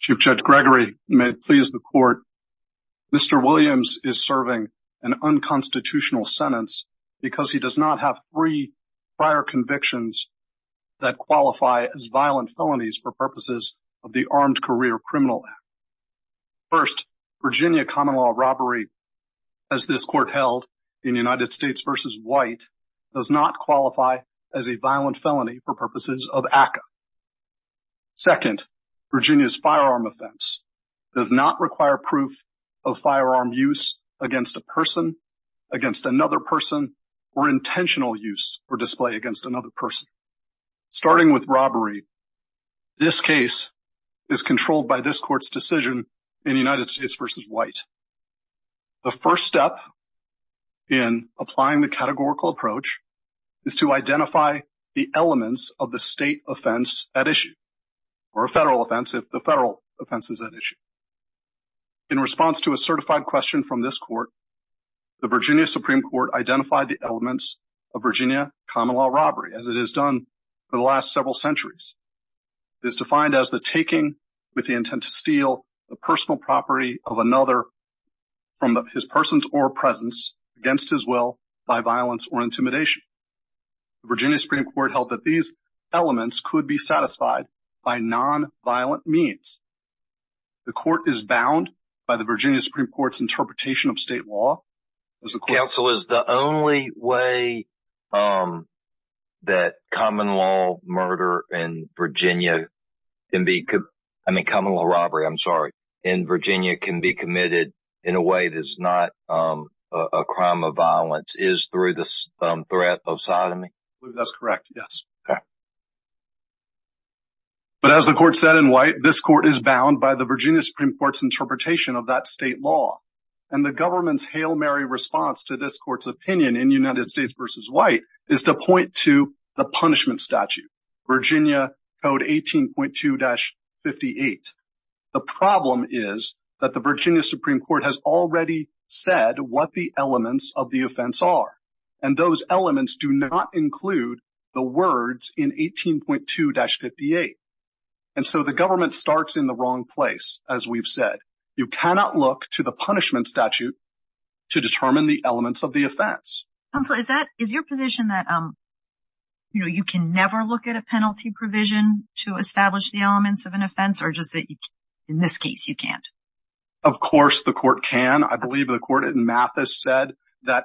Chief Judge Gregory, you may please the court. Mr. Williams is serving an unconstitutional sentence because he does not have three prior convictions that qualify as violent felonies for purposes of the Armed Career Criminal Act. First, Virginia common law robbery as this court held in United States v. White does not qualify as a violent felony for purposes of ACCA. Second, Virginia's firearm offense does not require proof of firearm use against a person, against another person, or intentional use or display against another person. Starting with robbery, this case is controlled by this court's decision in United States v. White. The first step in applying the categorical approach is to identify the elements of the state offense at issue or a federal offense if the federal offense is at issue. In response to a certified question from this court, the Virginia Supreme Court identified the elements of Virginia common law robbery as it has done for the last several centuries. It is defined as the taking with the intent to steal the personal property of another from his person's or presence against his will by violence or intimidation. Virginia Supreme Court held that these elements could be satisfied by non-violent means. The court is bound by the Virginia Supreme Court's interpretation of state law. Counsel, is the only way that common law murder in Virginia, I mean common law robbery, I'm sorry, in Virginia can be committed in a way that is not a crime of violence is through the threat of sodomy? That's correct, yes. But as the court said in White, this court is bound by the Virginia response to this court's opinion in United States versus White is to point to the punishment statute, Virginia code 18.2-58. The problem is that the Virginia Supreme Court has already said what the elements of the offense are. And those elements do not include the words in 18.2-58. And so the government starts in the wrong place. As we've said, you cannot look to the punishment statute to determine the elements of the offense. Counsel, is that, is your position that, you know, you can never look at a penalty provision to establish the elements of an offense or just that in this case you can't? Of course the court can. I believe the court in Mathis said that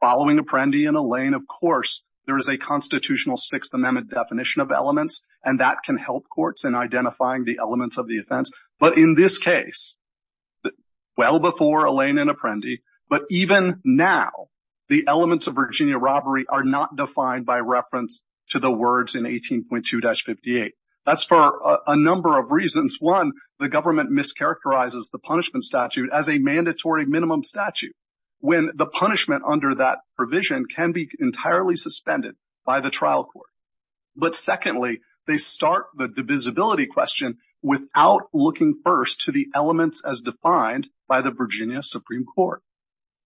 following Apprendi and Alain, of course, there is a constitutional Sixth Amendment definition of elements and that can help courts in identifying the elements of the offense. But in this case, well before Alain and Apprendi, but even now, the elements of Virginia robbery are not defined by reference to the words in 18.2-58. That's for a number of reasons. One, the government mischaracterizes the punishment statute as a mandatory minimum statute when the punishment under that provision can be entirely suspended by the trial court. But secondly, they start the divisibility question without looking first to the elements as defined by the Virginia Supreme Court.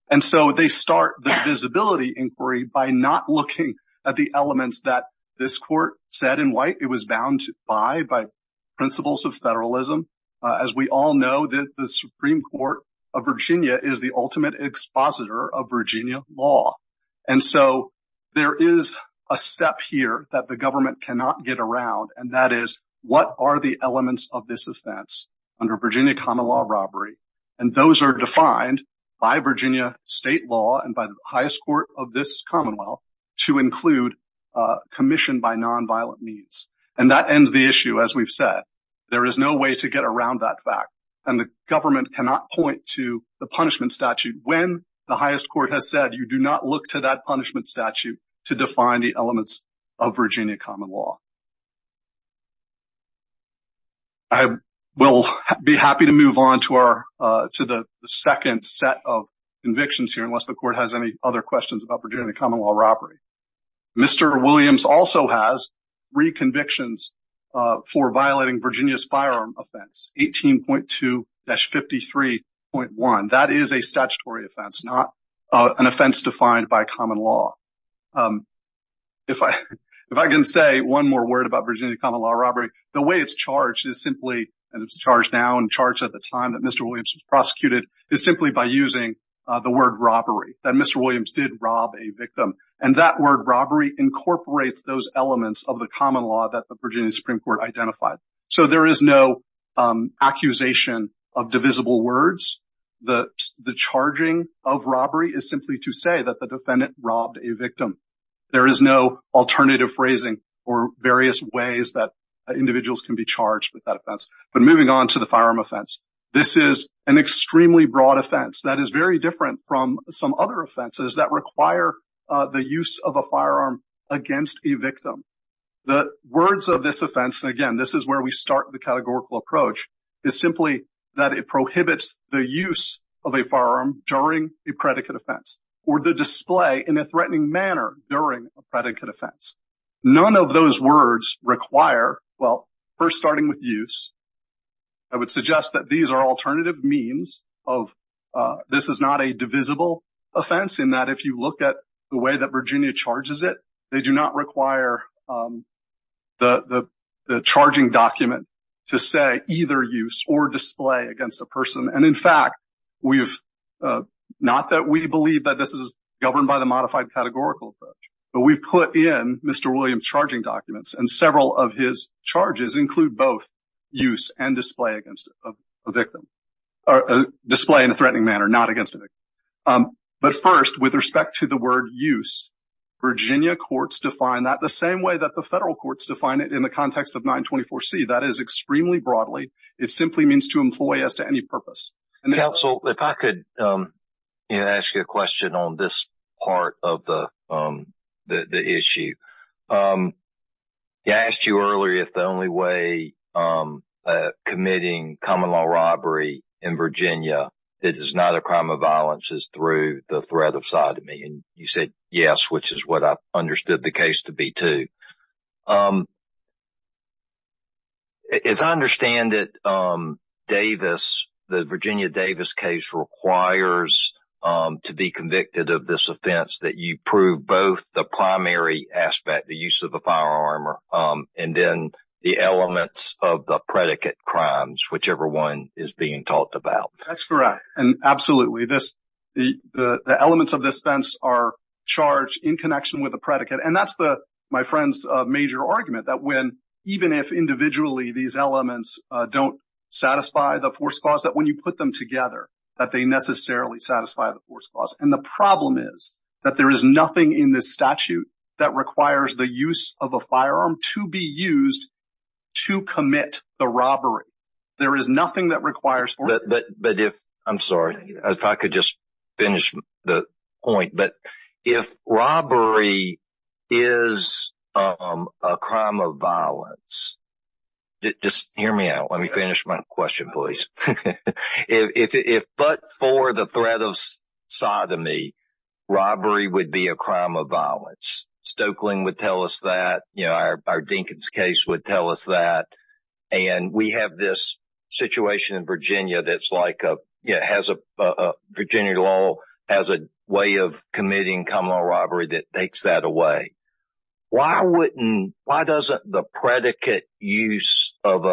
And so they start the divisibility inquiry by not looking at the elements that this court said in white it was bound by, by principles of federalism. As we all know that the Supreme And so there is a step here that the government cannot get around. And that is what are the elements of this offense under Virginia common law robbery. And those are defined by Virginia state law and by the highest court of this commonwealth to include a commission by nonviolent means. And that ends the issue. As we've said, there is no way to get around that fact. And the government cannot point to the punishment statute when the highest court has said you do not look to that punishment statute to define the elements of Virginia common law. I will be happy to move on to the second set of convictions here unless the court has any other questions about Virginia common law robbery. Mr. Williams also has three convictions for violating Virginia's firearm offense, 18.2-53.1. That is a statutory offense, not an offense defined by common law. If I can say one more word about Virginia common law robbery, the way it's charged is simply, and it's charged now and charged at the time that Mr. Williams was prosecuted, is simply by using the word robbery, that Mr. Williams did rob a victim. And that word robbery incorporates those elements of the common law that the Virginia Supreme Court identified. So there is no accusation of divisible words. The charging of robbery is simply to say that the defendant robbed a victim. There is no alternative phrasing or various ways that individuals can be charged with that offense. But moving on to the firearm offense, this is an extremely broad offense that is very different from some other offenses that require the use of a firearm against a victim. The words of this offense, and again, this is where we start the categorical approach, is simply that it prohibits the use of a firearm during a predicate offense or the display in a threatening manner during a predicate offense. None of those words require, well, first starting with use, I would suggest that these are alternative means of, this is not a divisible offense in that if you look at the way that Virginia charges it, they do not require the charging document to say either use or display against a person. And in fact, not that we believe that this is governed by the modified categorical approach, we've put in Mr. Williams' charging documents and several of his charges include both use and display against a victim, display in a threatening manner, not against a victim. But first, with respect to the word use, Virginia courts define that the same way that the federal courts define it in the context of 924C. That is extremely broadly, it simply means to employ as to any Counsel, if I could ask you a question on this part of the issue. I asked you earlier if the only way of committing common law robbery in Virginia that is not a crime of violence is through the threat of sodomy, and you said yes, which is what I understood the case to be too. As I understand it, the Virginia Davis case requires to be convicted of this offense that you prove both the primary aspect, the use of a firearm, and then the elements of the predicate crimes, whichever one is being talked about. That's correct. And absolutely, the elements of this fence are charged in connection with the predicate. And that's my friend's major argument, that when, even if individually these elements don't satisfy the force clause, that when you put them together, that they necessarily satisfy the force clause. And the problem is that there is nothing in this statute that requires the use of a firearm to be used to commit the robbery. There is nothing that requires. But if, I'm sorry, if I could just finish the point, but if robbery is a crime of violence, just hear me out. Let me finish my question, please. If but for the threat of sodomy, robbery would be a crime of violence. Stoeckling would tell us that, you know, our Dinkins case would tell us that. And we have this Virginia law as a way of committing common law robbery that takes that away. Why wouldn't, why doesn't the predicate use of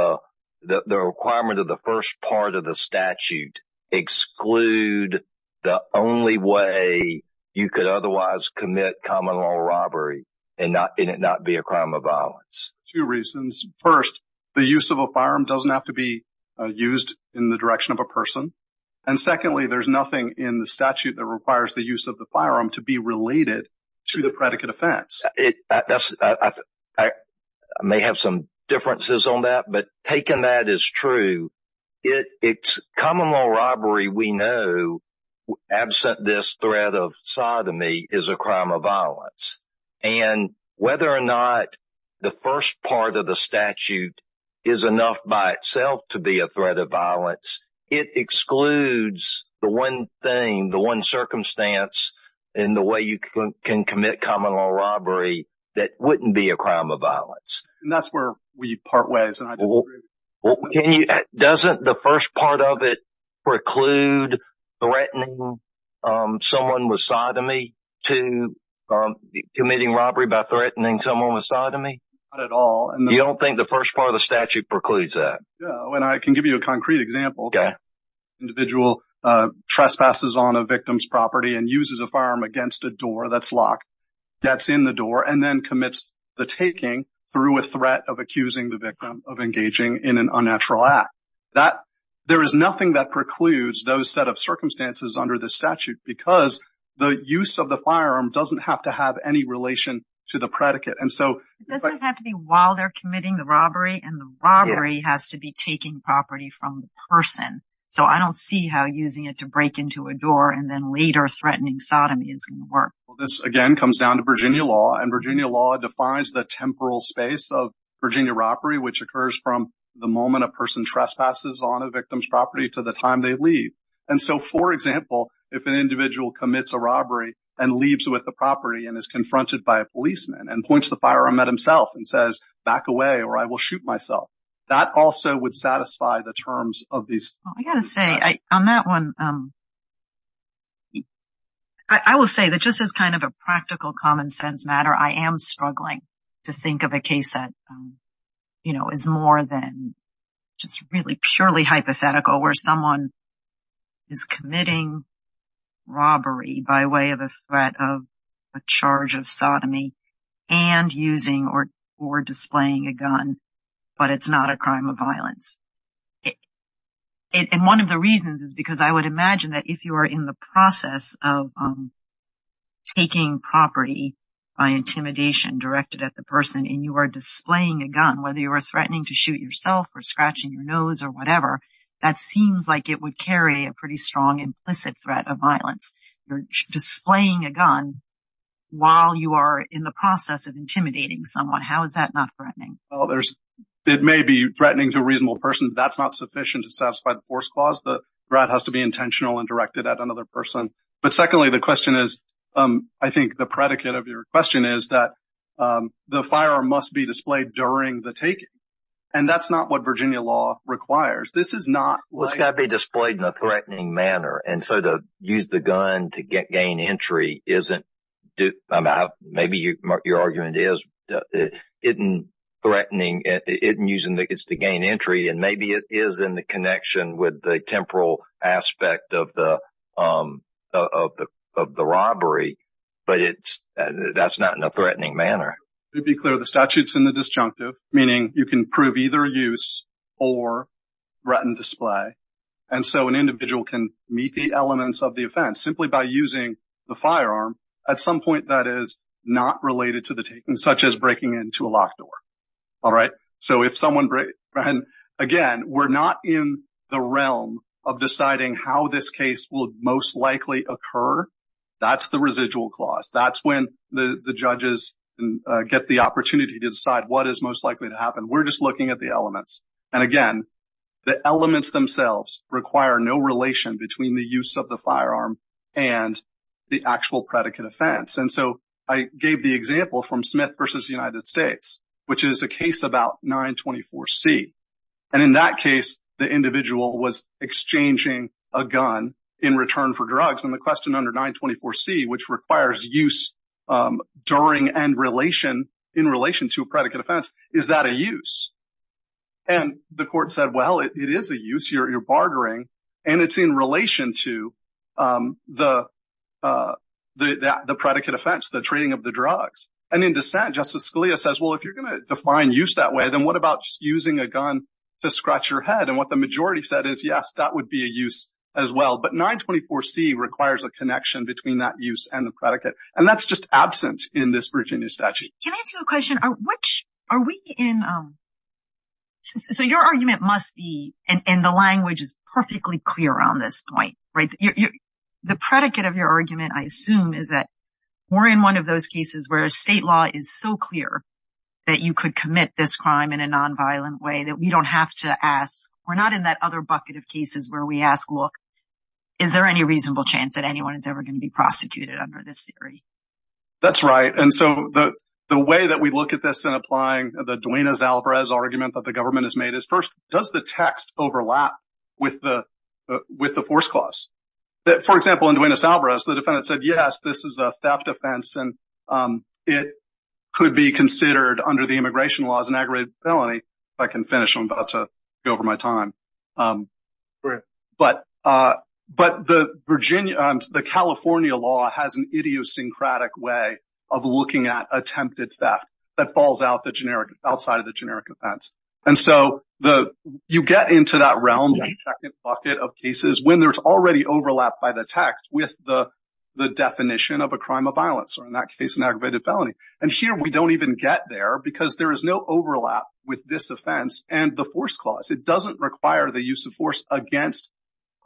the requirement of the first part of the statute exclude the only way you could otherwise commit common law robbery and it not be a crime of violence? Two reasons. First, the use of a firearm doesn't have to be used in the direction of a person. And secondly, there's nothing in the statute that requires the use of the firearm to be related to the predicate offense. I may have some differences on that, but taking that as true, it's common law robbery we know, absent this threat of sodomy, is a crime of violence. And whether or not the first part of the statute is enough by itself to be a threat of violence, it excludes the one thing, the one circumstance in the way you can commit common law robbery that wouldn't be a crime of violence. And that's where we part ways. Doesn't the first part of it preclude threatening someone with sodomy to committing robbery by threatening someone with sodomy? Not at all. You don't think the first part of the statute precludes that? No, and I can give you a concrete example. Individual trespasses on a victim's property and uses a firearm against a door that's locked, that's in the door, and then commits the taking through a threat of accusing the victim of engaging in an unnatural act. There is nothing that precludes those set of circumstances under the statute because the use of the firearm doesn't have to have any relation to the predicate. It doesn't have to be while they're committing the robbery, and the robbery has to be taking property from the person. So I don't see how using it to break into a door and then later threatening sodomy is going to work. This again comes down to Virginia law, and Virginia law defines the temporal space of Virginia robbery, which occurs from the moment a person trespasses on a victim's property to the time they leave. And so, for example, if an individual commits a robbery and leaves with the property and is confronted by a policeman and points the firearm at himself and says, back away or I will shoot myself, that also would satisfy the terms of these. I got to say, on that one, I will say that just as kind of a practical common sense matter, I am struggling to think of a case that, you know, is more than just really purely hypothetical where someone is committing robbery by way of a threat of a charge of sodomy and using or displaying a gun, but it's not a crime of violence. And one of the reasons is because I would imagine that if you are in the process of taking property by intimidation directed at the person and you are displaying a gun, whether you are threatening to shoot yourself or scratching your nose or whatever, that seems like it would carry a pretty strong implicit threat of violence. You're displaying a gun while you are in the process of intimidating someone. How is that not threatening? Well, it may be threatening to a reasonable person. That's not sufficient to satisfy the force clause. The threat has to be intentional and directed at another person. But secondly, the question is, I think the predicate of your question is that the firearm must be displayed during the taking. And that's not what Virginia law requires. Well, it's got to be displayed in a threatening manner. And so to use the gun to gain entry isn't, maybe your argument is, isn't threatening, isn't using it to gain entry, and maybe it is in the connection with the temporal aspect of the robbery, but that's not in a threatening manner. To be clear, the statute's in the disjunctive, meaning you can prove either use or written display. And so an individual can meet the elements of the offense simply by using the firearm at some point that is not related to the taking, such as breaking into a locked door. All right. So if someone breaks in, again, we're not in the realm of deciding how this case will most likely occur. That's the residual clause. That's when the judges get the opportunity to decide what is most likely to happen. We're just looking at the elements. And again, the elements themselves require no relation between the use of the firearm and the actual predicate offense. And so I gave the example from Smith versus United States, which is a case about 924C. And in that case, the individual was exchanging a gun in use during and in relation to a predicate offense. Is that a use? And the court said, well, it is a use. You're bartering. And it's in relation to the predicate offense, the trading of the drugs. And in dissent, Justice Scalia says, well, if you're going to define use that way, then what about using a gun to scratch your head? And what the majority said is, yes, that would be a use as well. But 924C requires a connection between that use and the predicate. And that's just absent in this Virginia statute. Can I ask you a question? So your argument must be, and the language is perfectly clear on this point, right? The predicate of your argument, I assume, is that we're in one of those cases where state law is so clear that you could commit this crime in a nonviolent way that we don't have to ask. We're not in that other bucket of cases where we ask, look, is there any reasonable chance that anyone is ever going to be prosecuted under this theory? That's right. And so the way that we look at this in applying the Duenas-Alvarez argument that the government has made is, first, does the text overlap with the force clause? For example, in Duenas-Alvarez, the defendant said, yes, this is a theft offense. And it could be considered under the immigration laws an aggravated felony, if I can finish. I'm about to go over my time. Right. But the California law has an idiosyncratic way of looking at attempted theft that falls outside of the generic offense. And so you get into that realm, that second bucket of cases, when there's already overlap by the text with the definition of a crime of violence, or in that case, an aggravated felony. And here, we don't even get there because there is no overlap with this offense and the force clause. It doesn't require the use of force against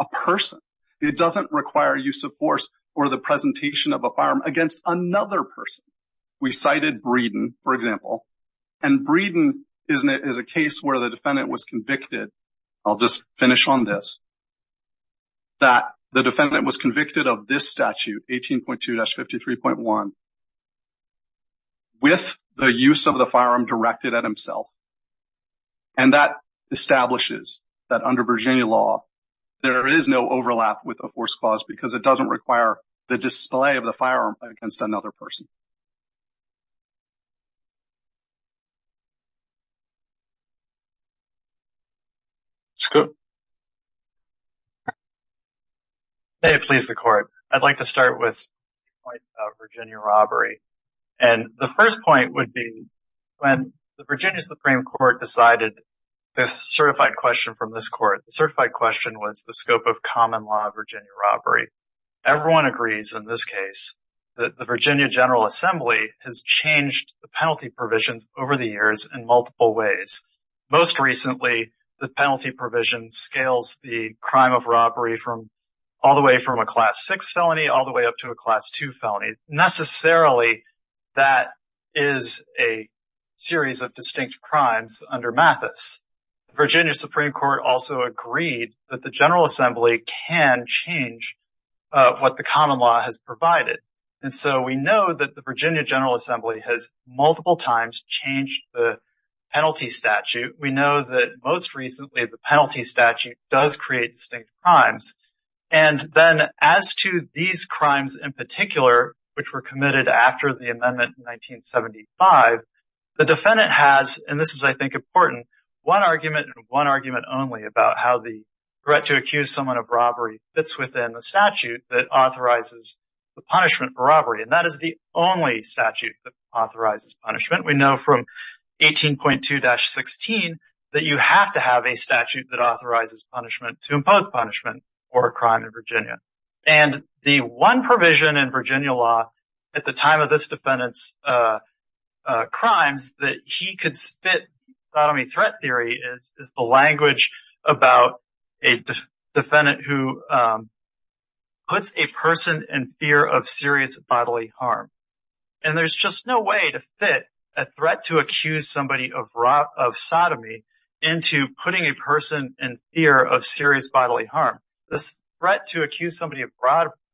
a person. It doesn't require use of force or the presentation of a firearm against another person. We cited Breeden, for example. And Breeden is a case where the defendant was convicted. I'll just finish on this. That the defendant was convicted of this statute, 18.2-53.1, with the use of the firearm directed at himself. And that establishes that under Virginia law, there is no overlap with a force clause because it doesn't require the display of the firearm against another person. May it please the court. I'd like to start with the point about Virginia robbery. And the first point would be when the Virginia Supreme Court decided this certified question from this court. The certified question was the scope of common law of Virginia robbery. Everyone agrees in this case that the Virginia General Assembly has changed the penalty provisions over the years in multiple ways. Most recently, the penalty provision scales the crime of robbery from all the way from a class 6 felony all the way up to a class 2 felony. Necessarily, that is a series of distinct crimes under Mathis. The Virginia Supreme Court also agreed that the General Assembly can change what the common law has provided. And so we know that the Virginia General Assembly has multiple times changed the penalty statute. We know that most recently, the penalty statute does create distinct crimes. And then as to these crimes in particular, which were committed after the amendment in 1975, the defendant has, and this is I think important, one argument and one argument only about how the threat to accuse someone of robbery fits within the statute that authorizes the punishment for robbery. And that is the only statute that authorizes punishment. We know from 18.2-16 that you have to have a statute that authorizes punishment to impose punishment for a crime in Virginia. And the one provision in Virginia law at the time of this defendant's crimes that he could spit sodomy threat theory is the language about a defendant who puts a person in fear of serious bodily harm. And there's just no way to accuse somebody of sodomy into putting a person in fear of serious bodily harm. This threat to accuse somebody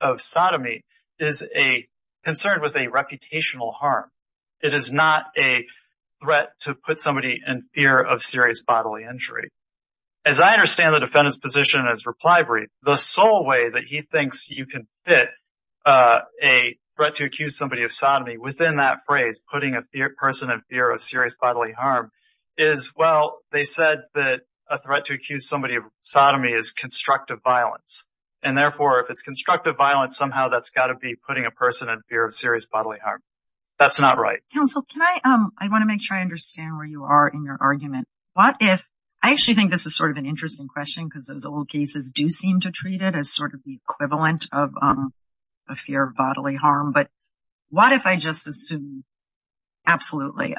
of sodomy is a concern with a reputational harm. It is not a threat to put somebody in fear of serious bodily injury. As I understand the defendant's position as reply brief, the sole way that he thinks you can fit a threat to accuse somebody of sodomy within that phrase, putting a person in fear of serious bodily harm, is, well, they said that a threat to accuse somebody of sodomy is constructive violence. And therefore, if it's constructive violence, somehow that's got to be putting a person in fear of serious bodily harm. That's not right. Counsel, can I, I want to make sure I understand where you are in your argument. What if, I actually think this is sort of an interesting question because those old cases do seem to treat it as the equivalent of a fear of bodily harm. But what if I just assume, absolutely,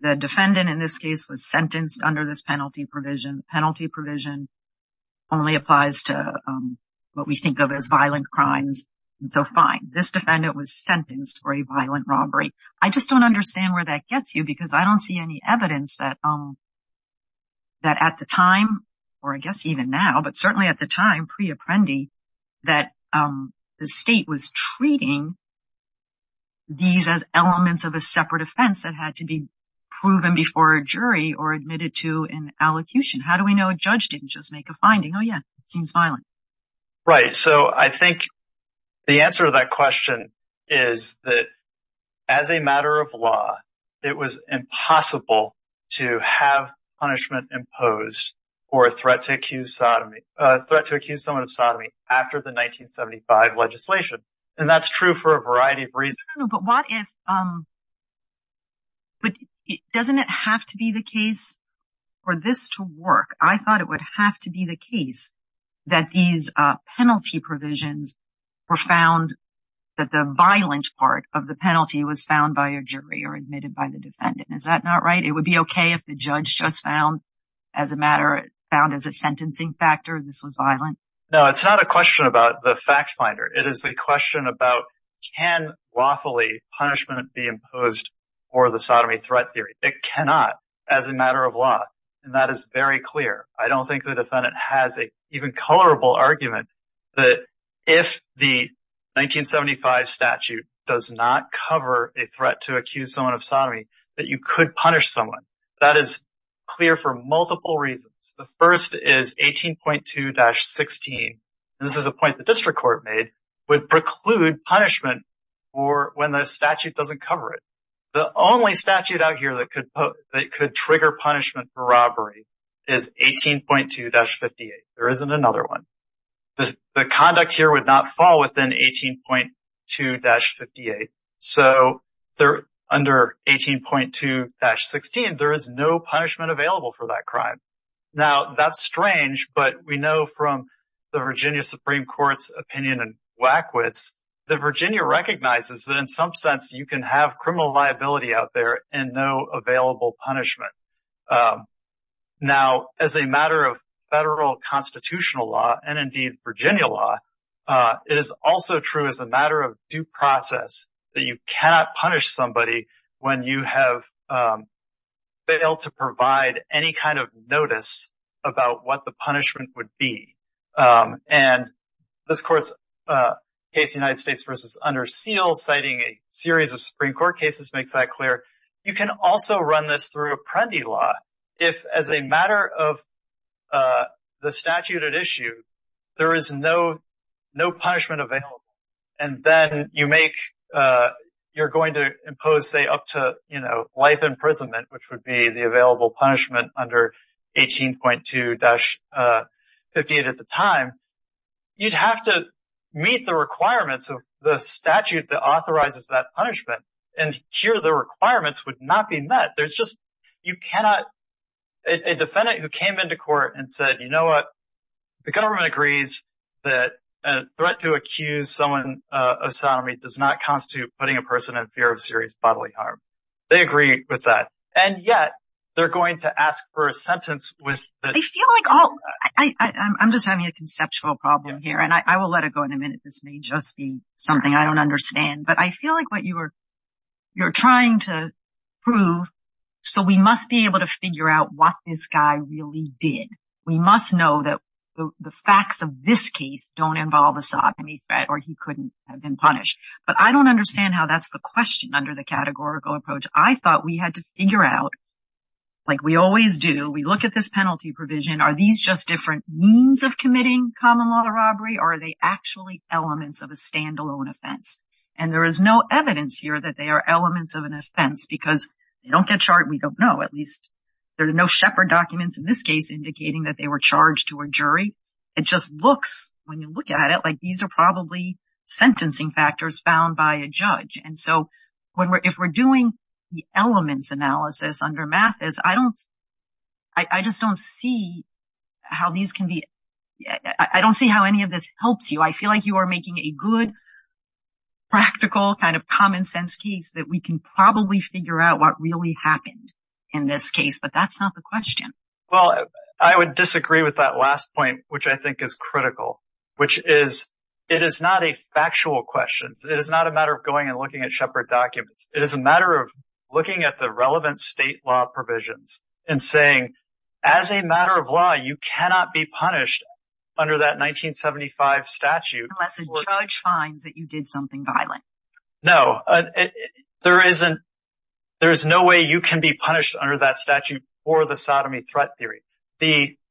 the defendant in this case was sentenced under this penalty provision. Penalty provision only applies to what we think of as violent crimes. And so fine, this defendant was sentenced for a violent robbery. I just don't understand where that gets you because I don't see any evidence that at the time, or I guess even now, but certainly at the time pre-Apprendi, that the state was treating these as elements of a separate offense that had to be proven before a jury or admitted to an allocution. How do we know a judge didn't just make a finding? Oh yeah, it seems violent. Right. So I think the answer to that question is that as a matter of law, it was impossible to have punishment imposed for a threat to accuse sodomy, a threat to accuse someone of sodomy after the 1975 legislation. And that's true for a variety of reasons. But what if, but doesn't it have to be the case for this to work? I thought it would have to be the case that these penalty provisions were found, that the violent part of the penalty was found by a jury or defendant. Is that not right? It would be okay if the judge just found as a matter, found as a sentencing factor, this was violent? No, it's not a question about the fact finder. It is a question about can lawfully punishment be imposed for the sodomy threat theory? It cannot as a matter of law. And that is very clear. I don't think the defendant has an even colorable argument that if the 1975 statute does not cover a threat to accuse someone of sodomy, that you could punish someone. That is clear for multiple reasons. The first is 18.2-16, and this is a point the district court made, would preclude punishment for when the statute doesn't cover it. The only statute out here that could trigger punishment for robbery is 18.2-58. There isn't another one. The conduct here would not fall within 18.2-58. So under 18.2-16, there is no punishment available for that crime. Now, that's strange, but we know from the Virginia Supreme Court's opinion and Wackwitz that Virginia recognizes that in some sense you can have criminal liability out there and no available punishment. Now, as a matter of federal constitutional law and, indeed, Virginia law, it is also true as a matter of due process that you cannot punish somebody when you have failed to provide any kind of notice about what the punishment would be. And this court's case, United States v. Under Seal, citing a series of Supreme Court cases, makes that clear. You can also run this through Apprendi law if, as a matter of the statute at issue, there is no punishment available. And then you're going to impose, say, up to life imprisonment, the available punishment under 18.2-58 at the time. You'd have to meet the requirements of the statute that authorizes that punishment, and here the requirements would not be met. A defendant who came into court and said, you know what, the government agrees that a threat to accuse someone of sodomy does not constitute putting a person in fear of serious bodily harm. They agree with that. And yet, they're going to ask for a sentence with... I feel like I'm just having a conceptual problem here, and I will let it go in a minute. This may just be something I don't understand. But I feel like what you're trying to prove, so we must be able to figure out what this guy really did. We must know that the facts of this case don't involve a sodomy threat or he couldn't have been punished. But I don't understand how that's the question under the categorical approach. I thought we had to figure out, like we always do, we look at this penalty provision, are these just different means of committing common law robbery, or are they actually elements of a standalone offense? And there is no evidence here that they are elements of an offense because they don't get charged. We don't know. At least there are no Shepherd documents in this case indicating that they were charged to a jury. It just looks, when you look at it, like these are probably sentencing factors found by a judge. And so if we're doing the elements analysis under Mathis, I just don't see how any of this helps you. I feel like you are making a good, practical kind of common sense case that we can probably figure out what really happened in this case, but that's not the question. Well, I would disagree with that last point, which I think is critical, which is it is not a factual question. It is not a matter of going and looking at Shepherd documents. It is a matter of looking at the relevant state law provisions and saying, as a matter of law, you cannot be punished under that 1975 statute. Unless a judge finds that you did something violent. No, there is no way you can be punished under that statute for the sodomy threat theory.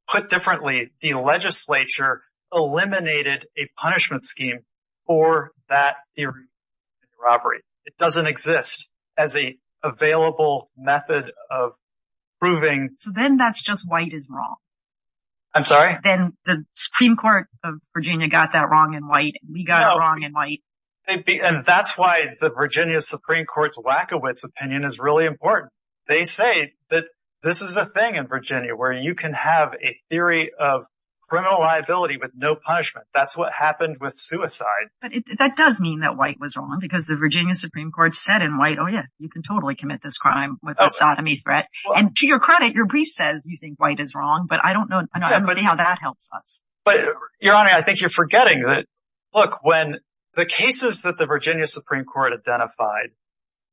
Put differently, the legislature eliminated a punishment scheme for that theory of robbery. It doesn't exist as an available method of proving. So then that's just white is wrong. I'm sorry? Then the Supreme Court of Virginia got that wrong in white. We got it wrong in white. And that's why the Virginia Supreme Court's Wachowicz opinion is really important. They say that this is a thing in Virginia where you can have a theory of criminal liability with no punishment. That's what happened with suicide. But that does mean that white was wrong because the Virginia Supreme Court said in white, oh yeah, you can totally commit this crime with a sodomy threat. And to your credit, your brief says you think white is wrong, but I don't know. I don't see how that helps us. But Your Honor, I think you're forgetting that. When the cases that the Virginia Supreme Court identified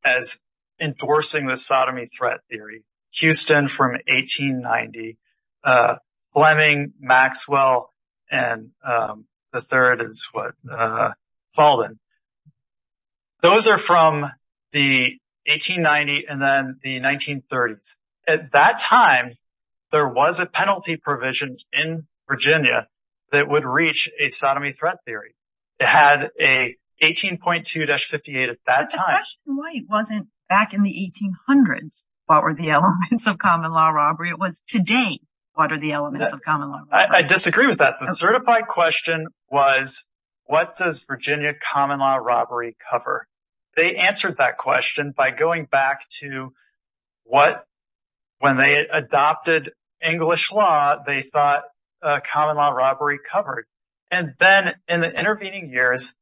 as endorsing the sodomy threat theory, Houston from 1890, Fleming, Maxwell, and the third is Falden. Those are from the 1890s and then the 1930s. At that time, there was a penalty provision in Virginia that would reach a sodomy threat theory. It had a 18.2-58 at that time. But the question wasn't back in the 1800s, what were the elements of common law robbery? It was today, what are the elements of common law? I disagree with that. The certified question was, what does Virginia common law robbery cover? They answered that question by going back to when they adopted English law, they thought common law robbery covered. And then in the intervening years,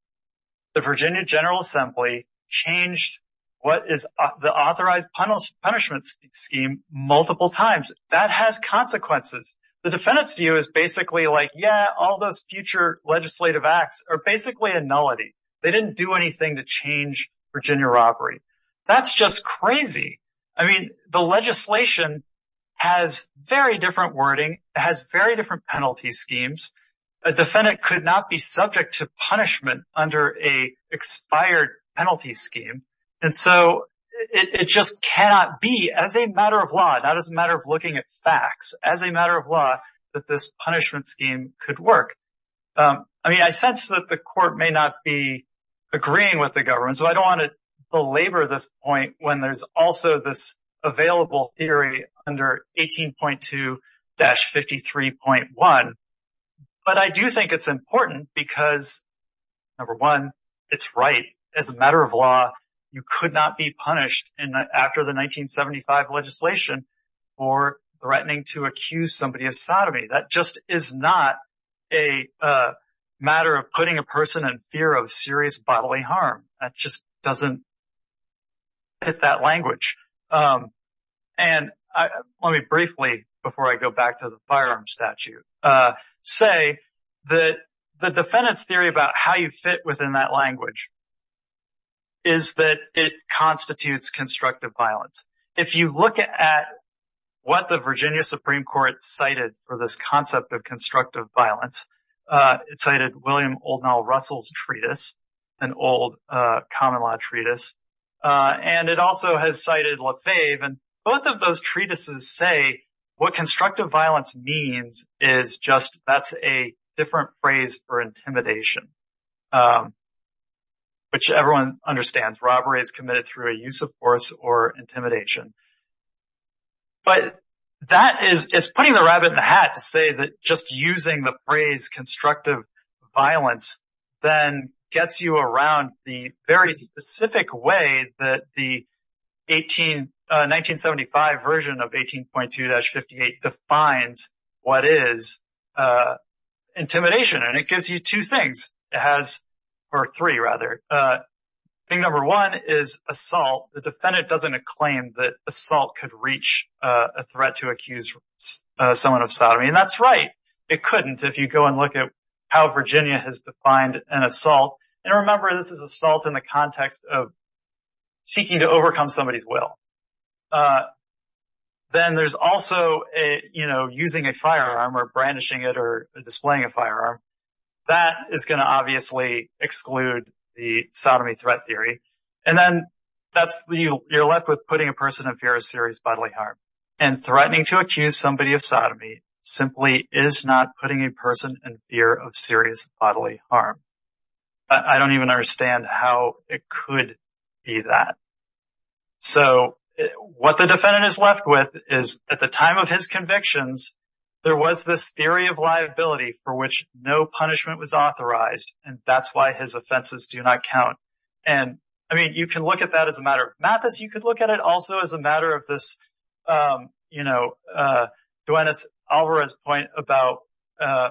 the Virginia General Assembly changed what is the authorized punishment scheme multiple times. That has consequences. The defendant's view is basically like, yeah, all those future legislative acts are basically a nullity. They didn't do anything to change Virginia robbery. That's just crazy. I mean, the legislation has very different wording, has very different penalty schemes. A defendant could not be subject to punishment under a expired penalty scheme. And so it just cannot be, as a matter of law, not as a matter of looking at facts, as a matter of law, that this punishment scheme could work. I mean, I sense that the court may not be agreeing with the government. So I want to belabor this point when there's also this available theory under 18.2-53.1. But I do think it's important because, number one, it's right. As a matter of law, you could not be punished after the 1975 legislation for threatening to accuse somebody of sodomy. That just is not a matter of putting a person in fear of serious bodily harm. That just doesn't fit that language. And let me briefly, before I go back to the firearm statute, say that the defendant's theory about how you fit within that language is that it constitutes constructive violence. If you look at what the Virginia Supreme Court cited for this concept of constructive violence, it cited William O'Donnell Russell's treatise, an old common law treatise. And it also has cited Lefebvre. And both of those treatises say what constructive violence means is just that's a different phrase for intimidation, which everyone understands. Robbery is committed through a use of force or intimidation. But that is, it's putting the rabbit in the hat to say that just using the phrase constructive violence then gets you around the very specific way that the 1975 version of 18.2-58 defines what is intimidation. And it gives you two things, it has, or three rather. Thing number one is assault. The defendant doesn't claim that they couldn't if you go and look at how Virginia has defined an assault. And remember this is assault in the context of seeking to overcome somebody's will. Then there's also a, you know, using a firearm or brandishing it or displaying a firearm. That is going to obviously exclude the sodomy threat theory. And then that's, you're left with putting a person in fear of serious bodily harm. And threatening to accuse somebody of sodomy simply is not putting a person in fear of serious bodily harm. I don't even understand how it could be that. So what the defendant is left with is at the time of his convictions, there was this theory of liability for which no punishment was authorized. And that's why his offenses do not count. And I mean, you can look that as a matter of Mathis, you could look at it also as a matter of this, you know, Duenas-Alvarez point about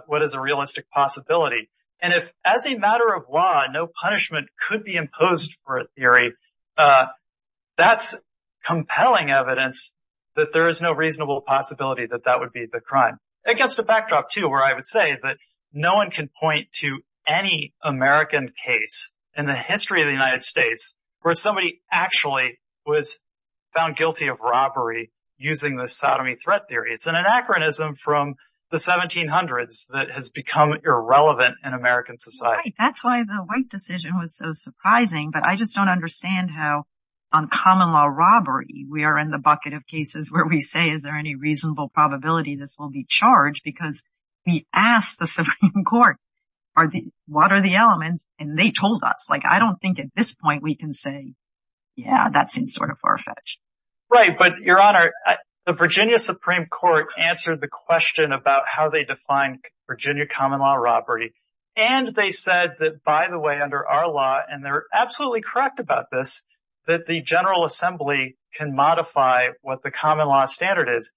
what is a realistic possibility. And if as a matter of law, no punishment could be imposed for a theory, that's compelling evidence that there is no reasonable possibility that that would be the crime. Against the backdrop too, where I would say that no one can point to any American case in the history of the United States where somebody actually was found guilty of robbery using the sodomy threat theory. It's an anachronism from the 1700s that has become irrelevant in American society. That's why the White decision was so surprising. But I just don't understand how on common law robbery, we are in the bucket of cases where we say, is there any element? And they told us, like, I don't think at this point we can say, yeah, that seems sort of far-fetched. Right. But Your Honor, the Virginia Supreme Court answered the question about how they define Virginia common law robbery. And they said that, by the way, under our law, and they're absolutely correct about this, that the General Assembly can modify what the common law standard is.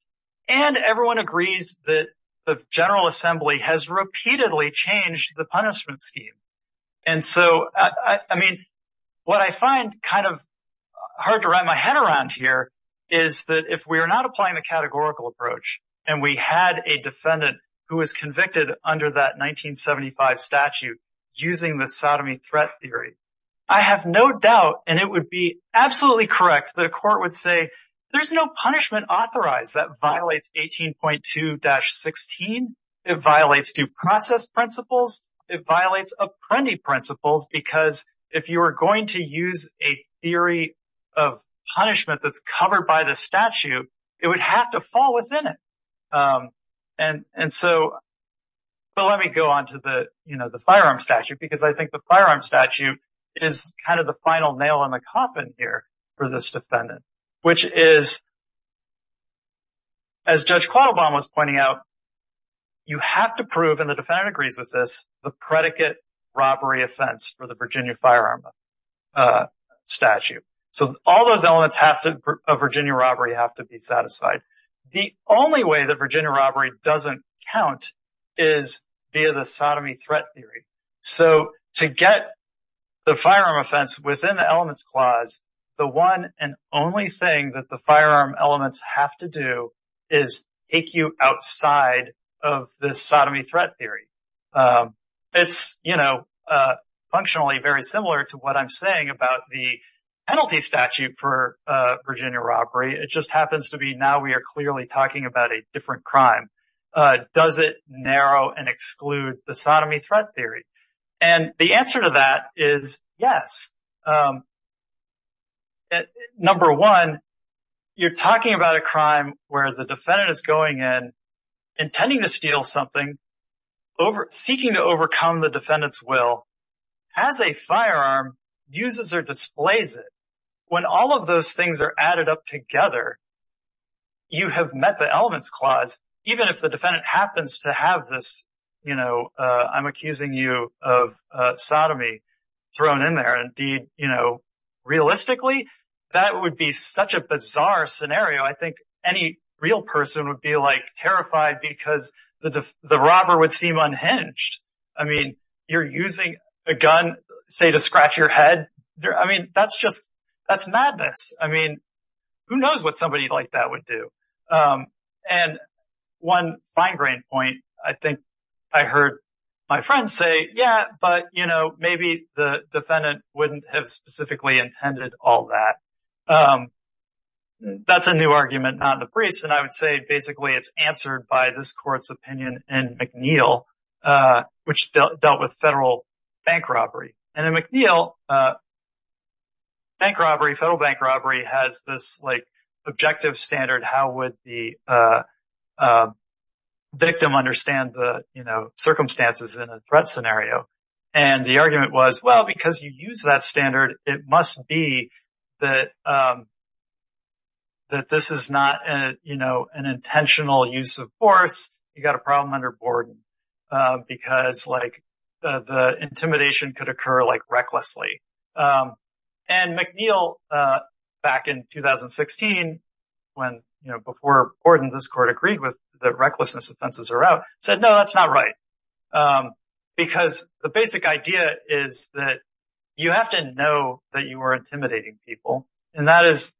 And everyone agrees that the General Assembly has repeatedly changed the punishment scheme. And so, I mean, what I find kind of hard to wrap my head around here is that if we are not applying the categorical approach, and we had a defendant who was convicted under that 1975 statute using the sodomy threat theory, I have no doubt, and it would be absolutely correct, the court would say, there's no punishment authorized that violates 18.2-16. It violates due process principles. It violates apprendee principles, because if you are going to use a theory of punishment that's covered by the statute, it would have to fall within it. And so, but let me go on to the, you know, the firearm statute, because I think the firearm statute is kind of the final nail in the coffin here for this defendant, which is, as Judge Quattlebaum was pointing out, you have to prove, and the defendant agrees with this, the predicate robbery offense for the Virginia firearm statute. So, all those elements of Virginia robbery have to be satisfied. The only way that Virginia robbery doesn't count is via the sodomy threat theory. So, to get the firearm offense within the elements clause, the one and only thing that the firearm elements have to do is take you outside of the sodomy threat theory. It's, you know, functionally very similar to what I'm saying about the penalty statute for Virginia robbery. It just happens to be now we are clearly talking about a different crime. Does it narrow and exclude the sodomy threat theory? And the answer to that is yes. Number one, you're talking about a crime where the defendant is going in, intending to steal something, seeking to overcome the defendant's will, has a firearm, uses or displays it. When all of those things are added up together, you have met the elements clause, even if the defendant happens to have this, you know, I'm accusing you of sodomy thrown in there. Indeed, you know, realistically, that would be such a bizarre scenario. I think any real person would be, like, terrified because the robber would seem unhinged. I mean, you're using a gun, say, to scratch your head. I mean, that's just, that's madness. I mean, who knows what somebody like that would do? And one fine-grained point, I think I heard my friends say, yeah, but, you know, maybe the um, that's a new argument, not in the briefs. And I would say basically it's answered by this court's opinion in McNeill, which dealt with federal bank robbery. And in McNeill, bank robbery, federal bank robbery has this, like, objective standard. How would the victim understand the, you know, circumstances in a threat scenario? And the argument was, well, because you use that standard, it must be that this is not, you know, an intentional use of force. You got a problem under Borden because, like, the intimidation could occur, like, recklessly. And McNeill, back in 2016, when, you know, before Borden, this court agreed with that recklessness offenses are out, said, no, that's not right. Because the basic idea is that you have to know that you are intimidating people. And that is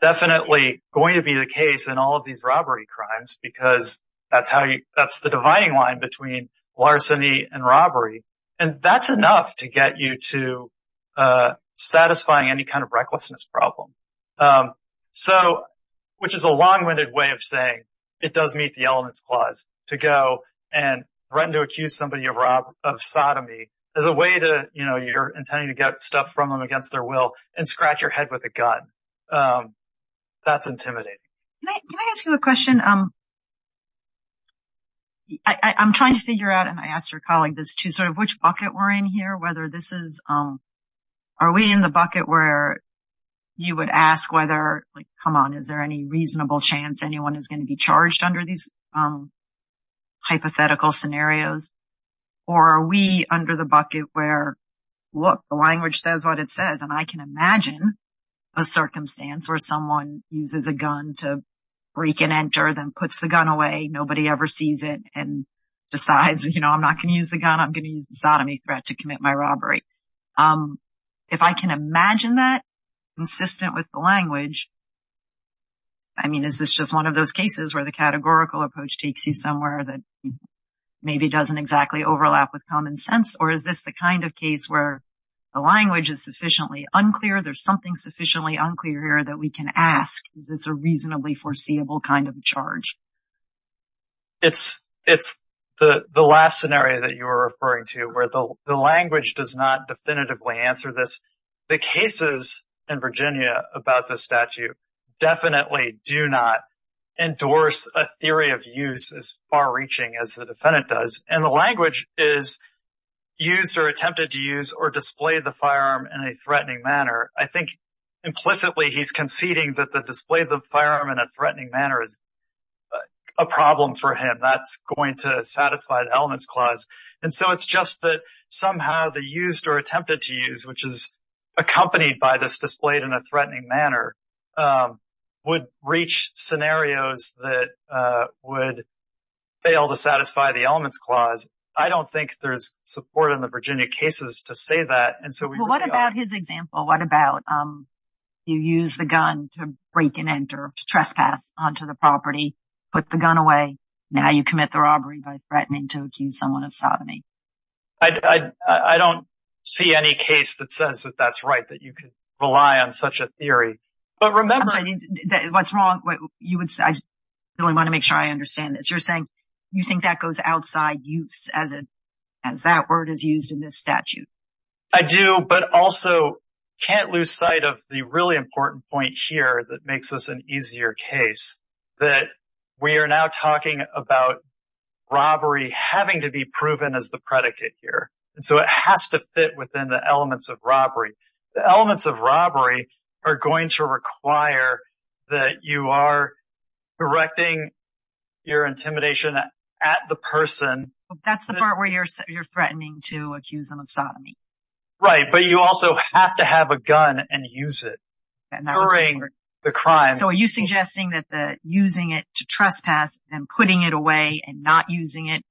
definitely going to be the case in all of these robbery crimes, because that's how you, that's the dividing line between larceny and robbery. And that's enough to get you to satisfying any kind of recklessness problem. So, which is a long-winded way of saying it does meet the elements clause to go and threaten to accuse somebody of sodomy as a way to, you know, you're intending to get stuff from them against their will and scratch your head with a gun. That's intimidating. Can I ask you a question? I'm trying to figure out, and I asked her colleague this too, sort of, which bucket we're in here, whether this is, are we in the bucket where you would ask whether, like, come on, is there any reasonable chance anyone is going to be charged under these hypothetical scenarios? Or are we under the bucket where, look, the language says what it says, and I can imagine a circumstance where someone uses a gun to break and enter, then puts the gun away, nobody ever sees it, and decides, you know, I'm not going to use the gun, I'm going to use the sodomy threat to commit my robbery. If I can imagine that consistent with the language, I mean, is this just one of those cases where the categorical approach takes you somewhere that maybe doesn't exactly overlap with common sense, or is this the kind of case where the language is sufficiently unclear, there's something sufficiently unclear here that we can ask, is this a reasonably foreseeable kind of charge? It's the last scenario that you were referring to where the language does not definitively answer this. The cases in Virginia about this statute definitely do not endorse a used or attempted to use or display the firearm in a threatening manner. I think implicitly he's conceding that the display of the firearm in a threatening manner is a problem for him, that's going to satisfy the elements clause. And so it's just that somehow the used or attempted to use, which is accompanied by this displayed in a threatening manner, would reach scenarios that would fail to satisfy the elements clause. I don't think there's support in the Virginia cases to say that. Well, what about his example? What about you use the gun to break and enter, to trespass onto the property, put the gun away, now you commit the robbery by threatening to accuse someone of sodomy. I don't see any case that says that that's right, that you could rely on such a theory. What's wrong? I really want to make sure I understand this. You're saying you think that goes outside use as that word is used in this statute. I do, but also can't lose sight of the really important point here that makes this an easier case, that we are now talking about robbery having to be proven as the predicate here. And so it has to fit within the elements of are going to require that you are directing your intimidation at the person. That's the part where you're threatening to accuse them of sodomy. Right, but you also have to have a gun and use it. So are you suggesting that the using it to trespass and putting it away and not using it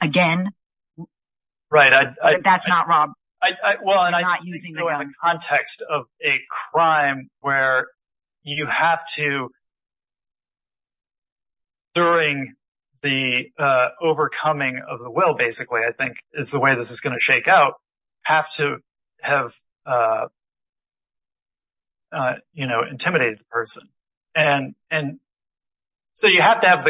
again? Right. That's not wrong. Well, in the context of a crime where you have to during the overcoming of the will, basically, I think is the way this is going to shake out, have to have intimidated the person. And so you have to have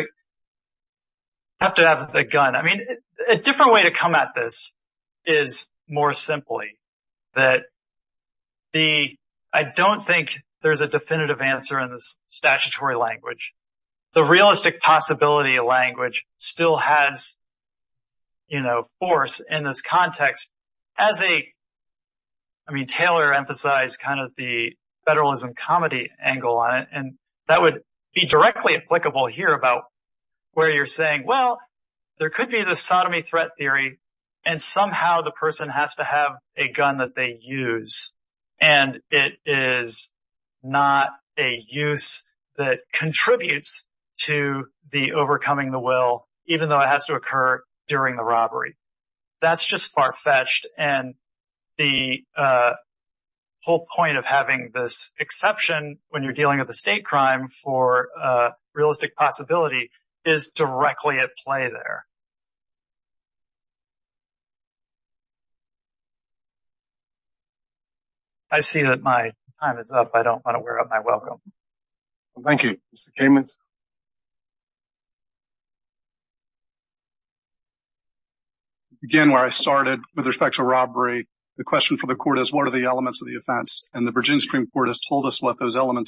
the gun. I mean, a different way to come at this is more simply that the I don't think there's a definitive answer in this statutory language. The realistic possibility of language still has, you know, force in this context as a. I mean, Taylor emphasized kind of the federalism comedy angle on it, and that would be directly applicable here about where you're saying, well, there could be the sodomy threat theory and somehow the person has to have a gun that they use and it is not a use that contributes to the overcoming the will, even though it has to occur during the robbery. That's just far fetched. And the whole point of having this exception when you're dealing with the state crime for realistic possibility is directly at play there. I see that my time is up. I don't want to wear up my welcome. Thank you. Mr. Kamen. Again, where I started with respect to robbery, the question for the court is what are the elements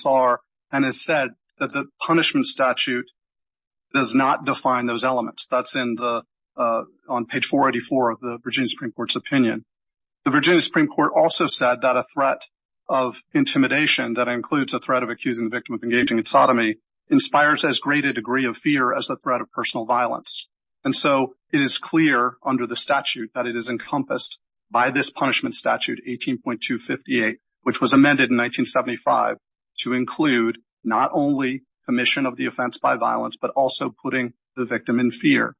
are and has said that the punishment statute does not define those elements. That's on page 484 of the Virginia Supreme Court's opinion. The Virginia Supreme Court also said that a threat of intimidation that includes a threat of accusing the victim of engaging in sodomy inspires as great a degree of fear as the threat of personal violence. And so it is clear under the statute that it is encompassed by this punishment statute 18.258, which was amended in 1875 to include not only commission of the offense by violence, but also putting the victim in fear.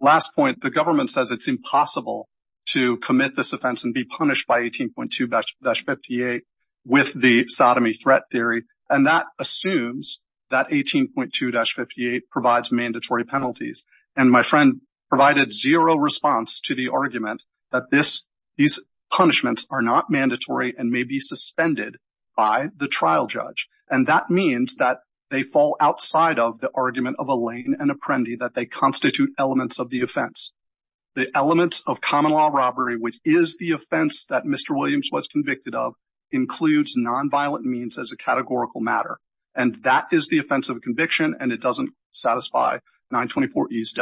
Last point, the government says it's impossible to commit this offense and be punished by 18.258 with the sodomy threat theory. And that assumes that 18.258 provides mandatory penalties. And my friend provided zero response to the argument that these punishments are not mandatory and may be suspended by the trial judge. And that means that they fall outside of the argument of Elaine and Apprendi that they constitute elements of the offense. The elements of common law robbery, which is the offense that Mr. Williams was convicted of, includes nonviolent means as a categorical matter. And that is the offense of a conviction. And it doesn't satisfy 924E's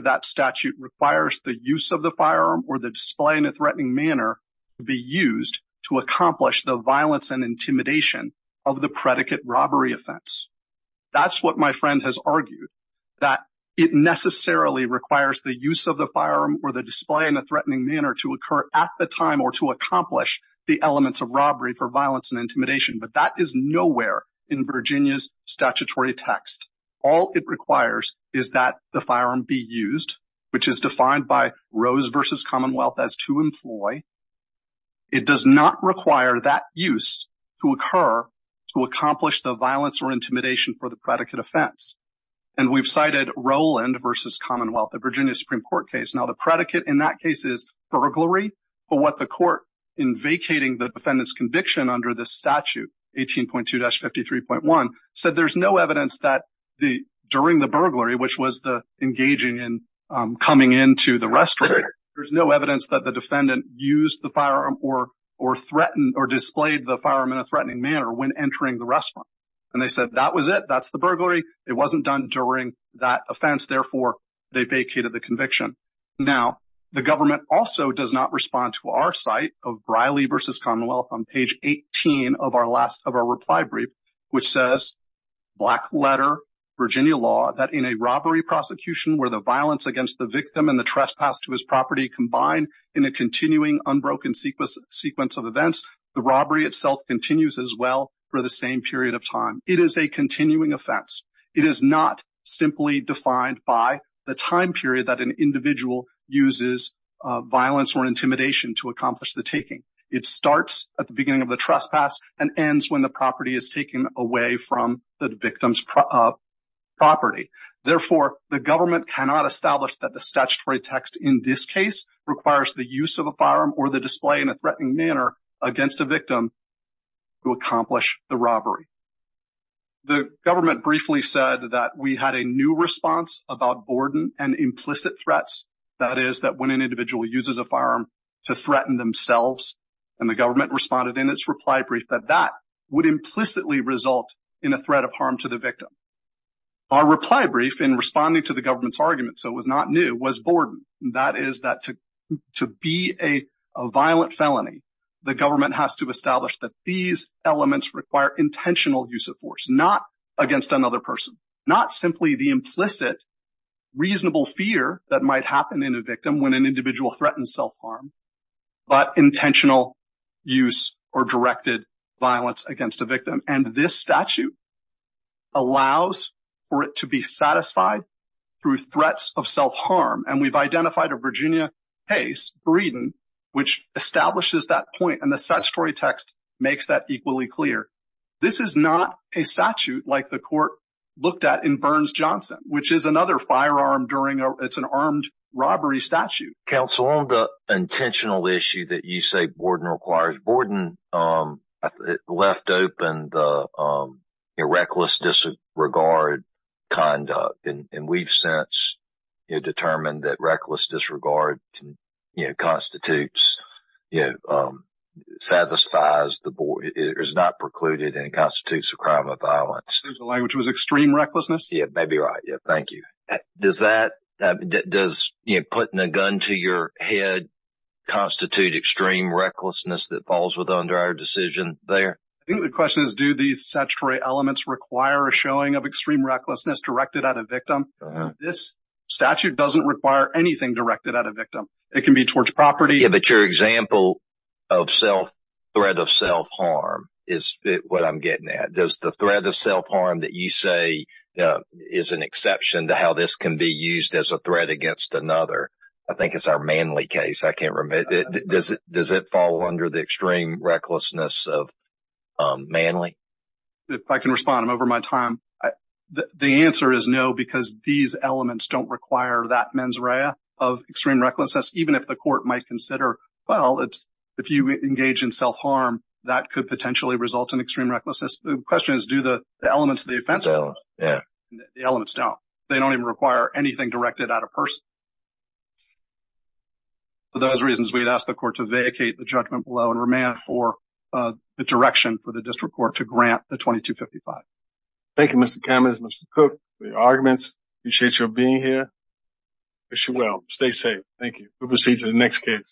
that statute requires the use of the firearm or the display in a threatening manner to be used to accomplish the violence and intimidation of the predicate robbery offense. That's what my friend has argued, that it necessarily requires the use of the firearm or the display in a threatening manner to occur at the time or to accomplish the elements of robbery for violence and intimidation. But that is nowhere in Virginia's statutory text. All it requires is that the firearm be used, which is defined by Rose v. Commonwealth as to employ. It does not require that use to occur to accomplish the violence or intimidation for the predicate offense. And we've cited Rowland v. Commonwealth, the Virginia Supreme Court case. Now, the predicate in that case is in vacating the defendant's conviction under this statute, 18.2-53.1, said there's no evidence that during the burglary, which was the engaging in coming into the restroom, there's no evidence that the defendant used the firearm or threatened or displayed the firearm in a threatening manner when entering the restroom. And they said that was it. That's the burglary. It wasn't done during that offense. Therefore, they vacated the conviction. Now, the government also does not respond to our site of Briley v. Commonwealth on page 18 of our reply brief, which says, black letter, Virginia law, that in a robbery prosecution where the violence against the victim and the trespass to his property combined in a continuing unbroken sequence of events, the robbery itself continues as well for the same period of time. It is a continuing offense. It is not simply defined by the time period that an individual uses violence or intimidation to accomplish the taking. It starts at the beginning of the trespass and ends when the property is taken away from the victim's property. Therefore, the government cannot establish that the statutory text in this case requires the use of a firearm or the display in a threatening manner against a We had a new response about boredom and implicit threats. That is that when an individual uses a firearm to threaten themselves, and the government responded in its reply brief that that would implicitly result in a threat of harm to the victim. Our reply brief in responding to the government's argument, so it was not new, was boredom. That is that to be a violent felony, the government has to establish that these elements require intentional use of force, not against another person, not simply the implicit reasonable fear that might happen in a victim when an individual threatens self-harm, but intentional use or directed violence against a victim. And this statute allows for it to be satisfied through threats of self-harm. And we've identified a Virginia case, Breeden, which establishes that point. And the statutory text makes that equally clear. This is not a statute like the court looked at in Burns-Johnson, which is another firearm during an armed robbery statute. Counsel, on the intentional issue that you say boredom requires, boredom left open the reckless disregard conduct. And we've since determined that reckless disregard constitutes you know, satisfies the board. It is not precluded and constitutes a crime of violence. The language was extreme recklessness. Yeah, maybe right. Yeah, thank you. Does that, does putting a gun to your head constitute extreme recklessness that falls with under our decision there? I think the question is, do these statutory elements require a showing of extreme recklessness directed at a victim? This statute doesn't require anything directed at a victim. It can be towards property. Yeah, but your example of self, threat of self-harm is what I'm getting at. Does the threat of self-harm that you say is an exception to how this can be used as a threat against another? I think it's our Manley case. I can't remember. Does it fall under the extreme recklessness of Manley? If I can respond, I'm over my time. The answer is no, because these elements don't require that mens rea of extreme recklessness, even if the court might consider, well, it's, if you engage in self-harm, that could potentially result in extreme recklessness. The question is, do the elements of the offense, the elements don't. They don't even require anything directed at a person. For those reasons, we'd ask the court to vacate the judgment below and remain for the direction for the district court to grant the 2255. Thank you, Mr. Cameron and Mr. Cook for your arguments. Appreciate you being here. Wish you well. Stay safe. Thank you. We'll proceed to the next case.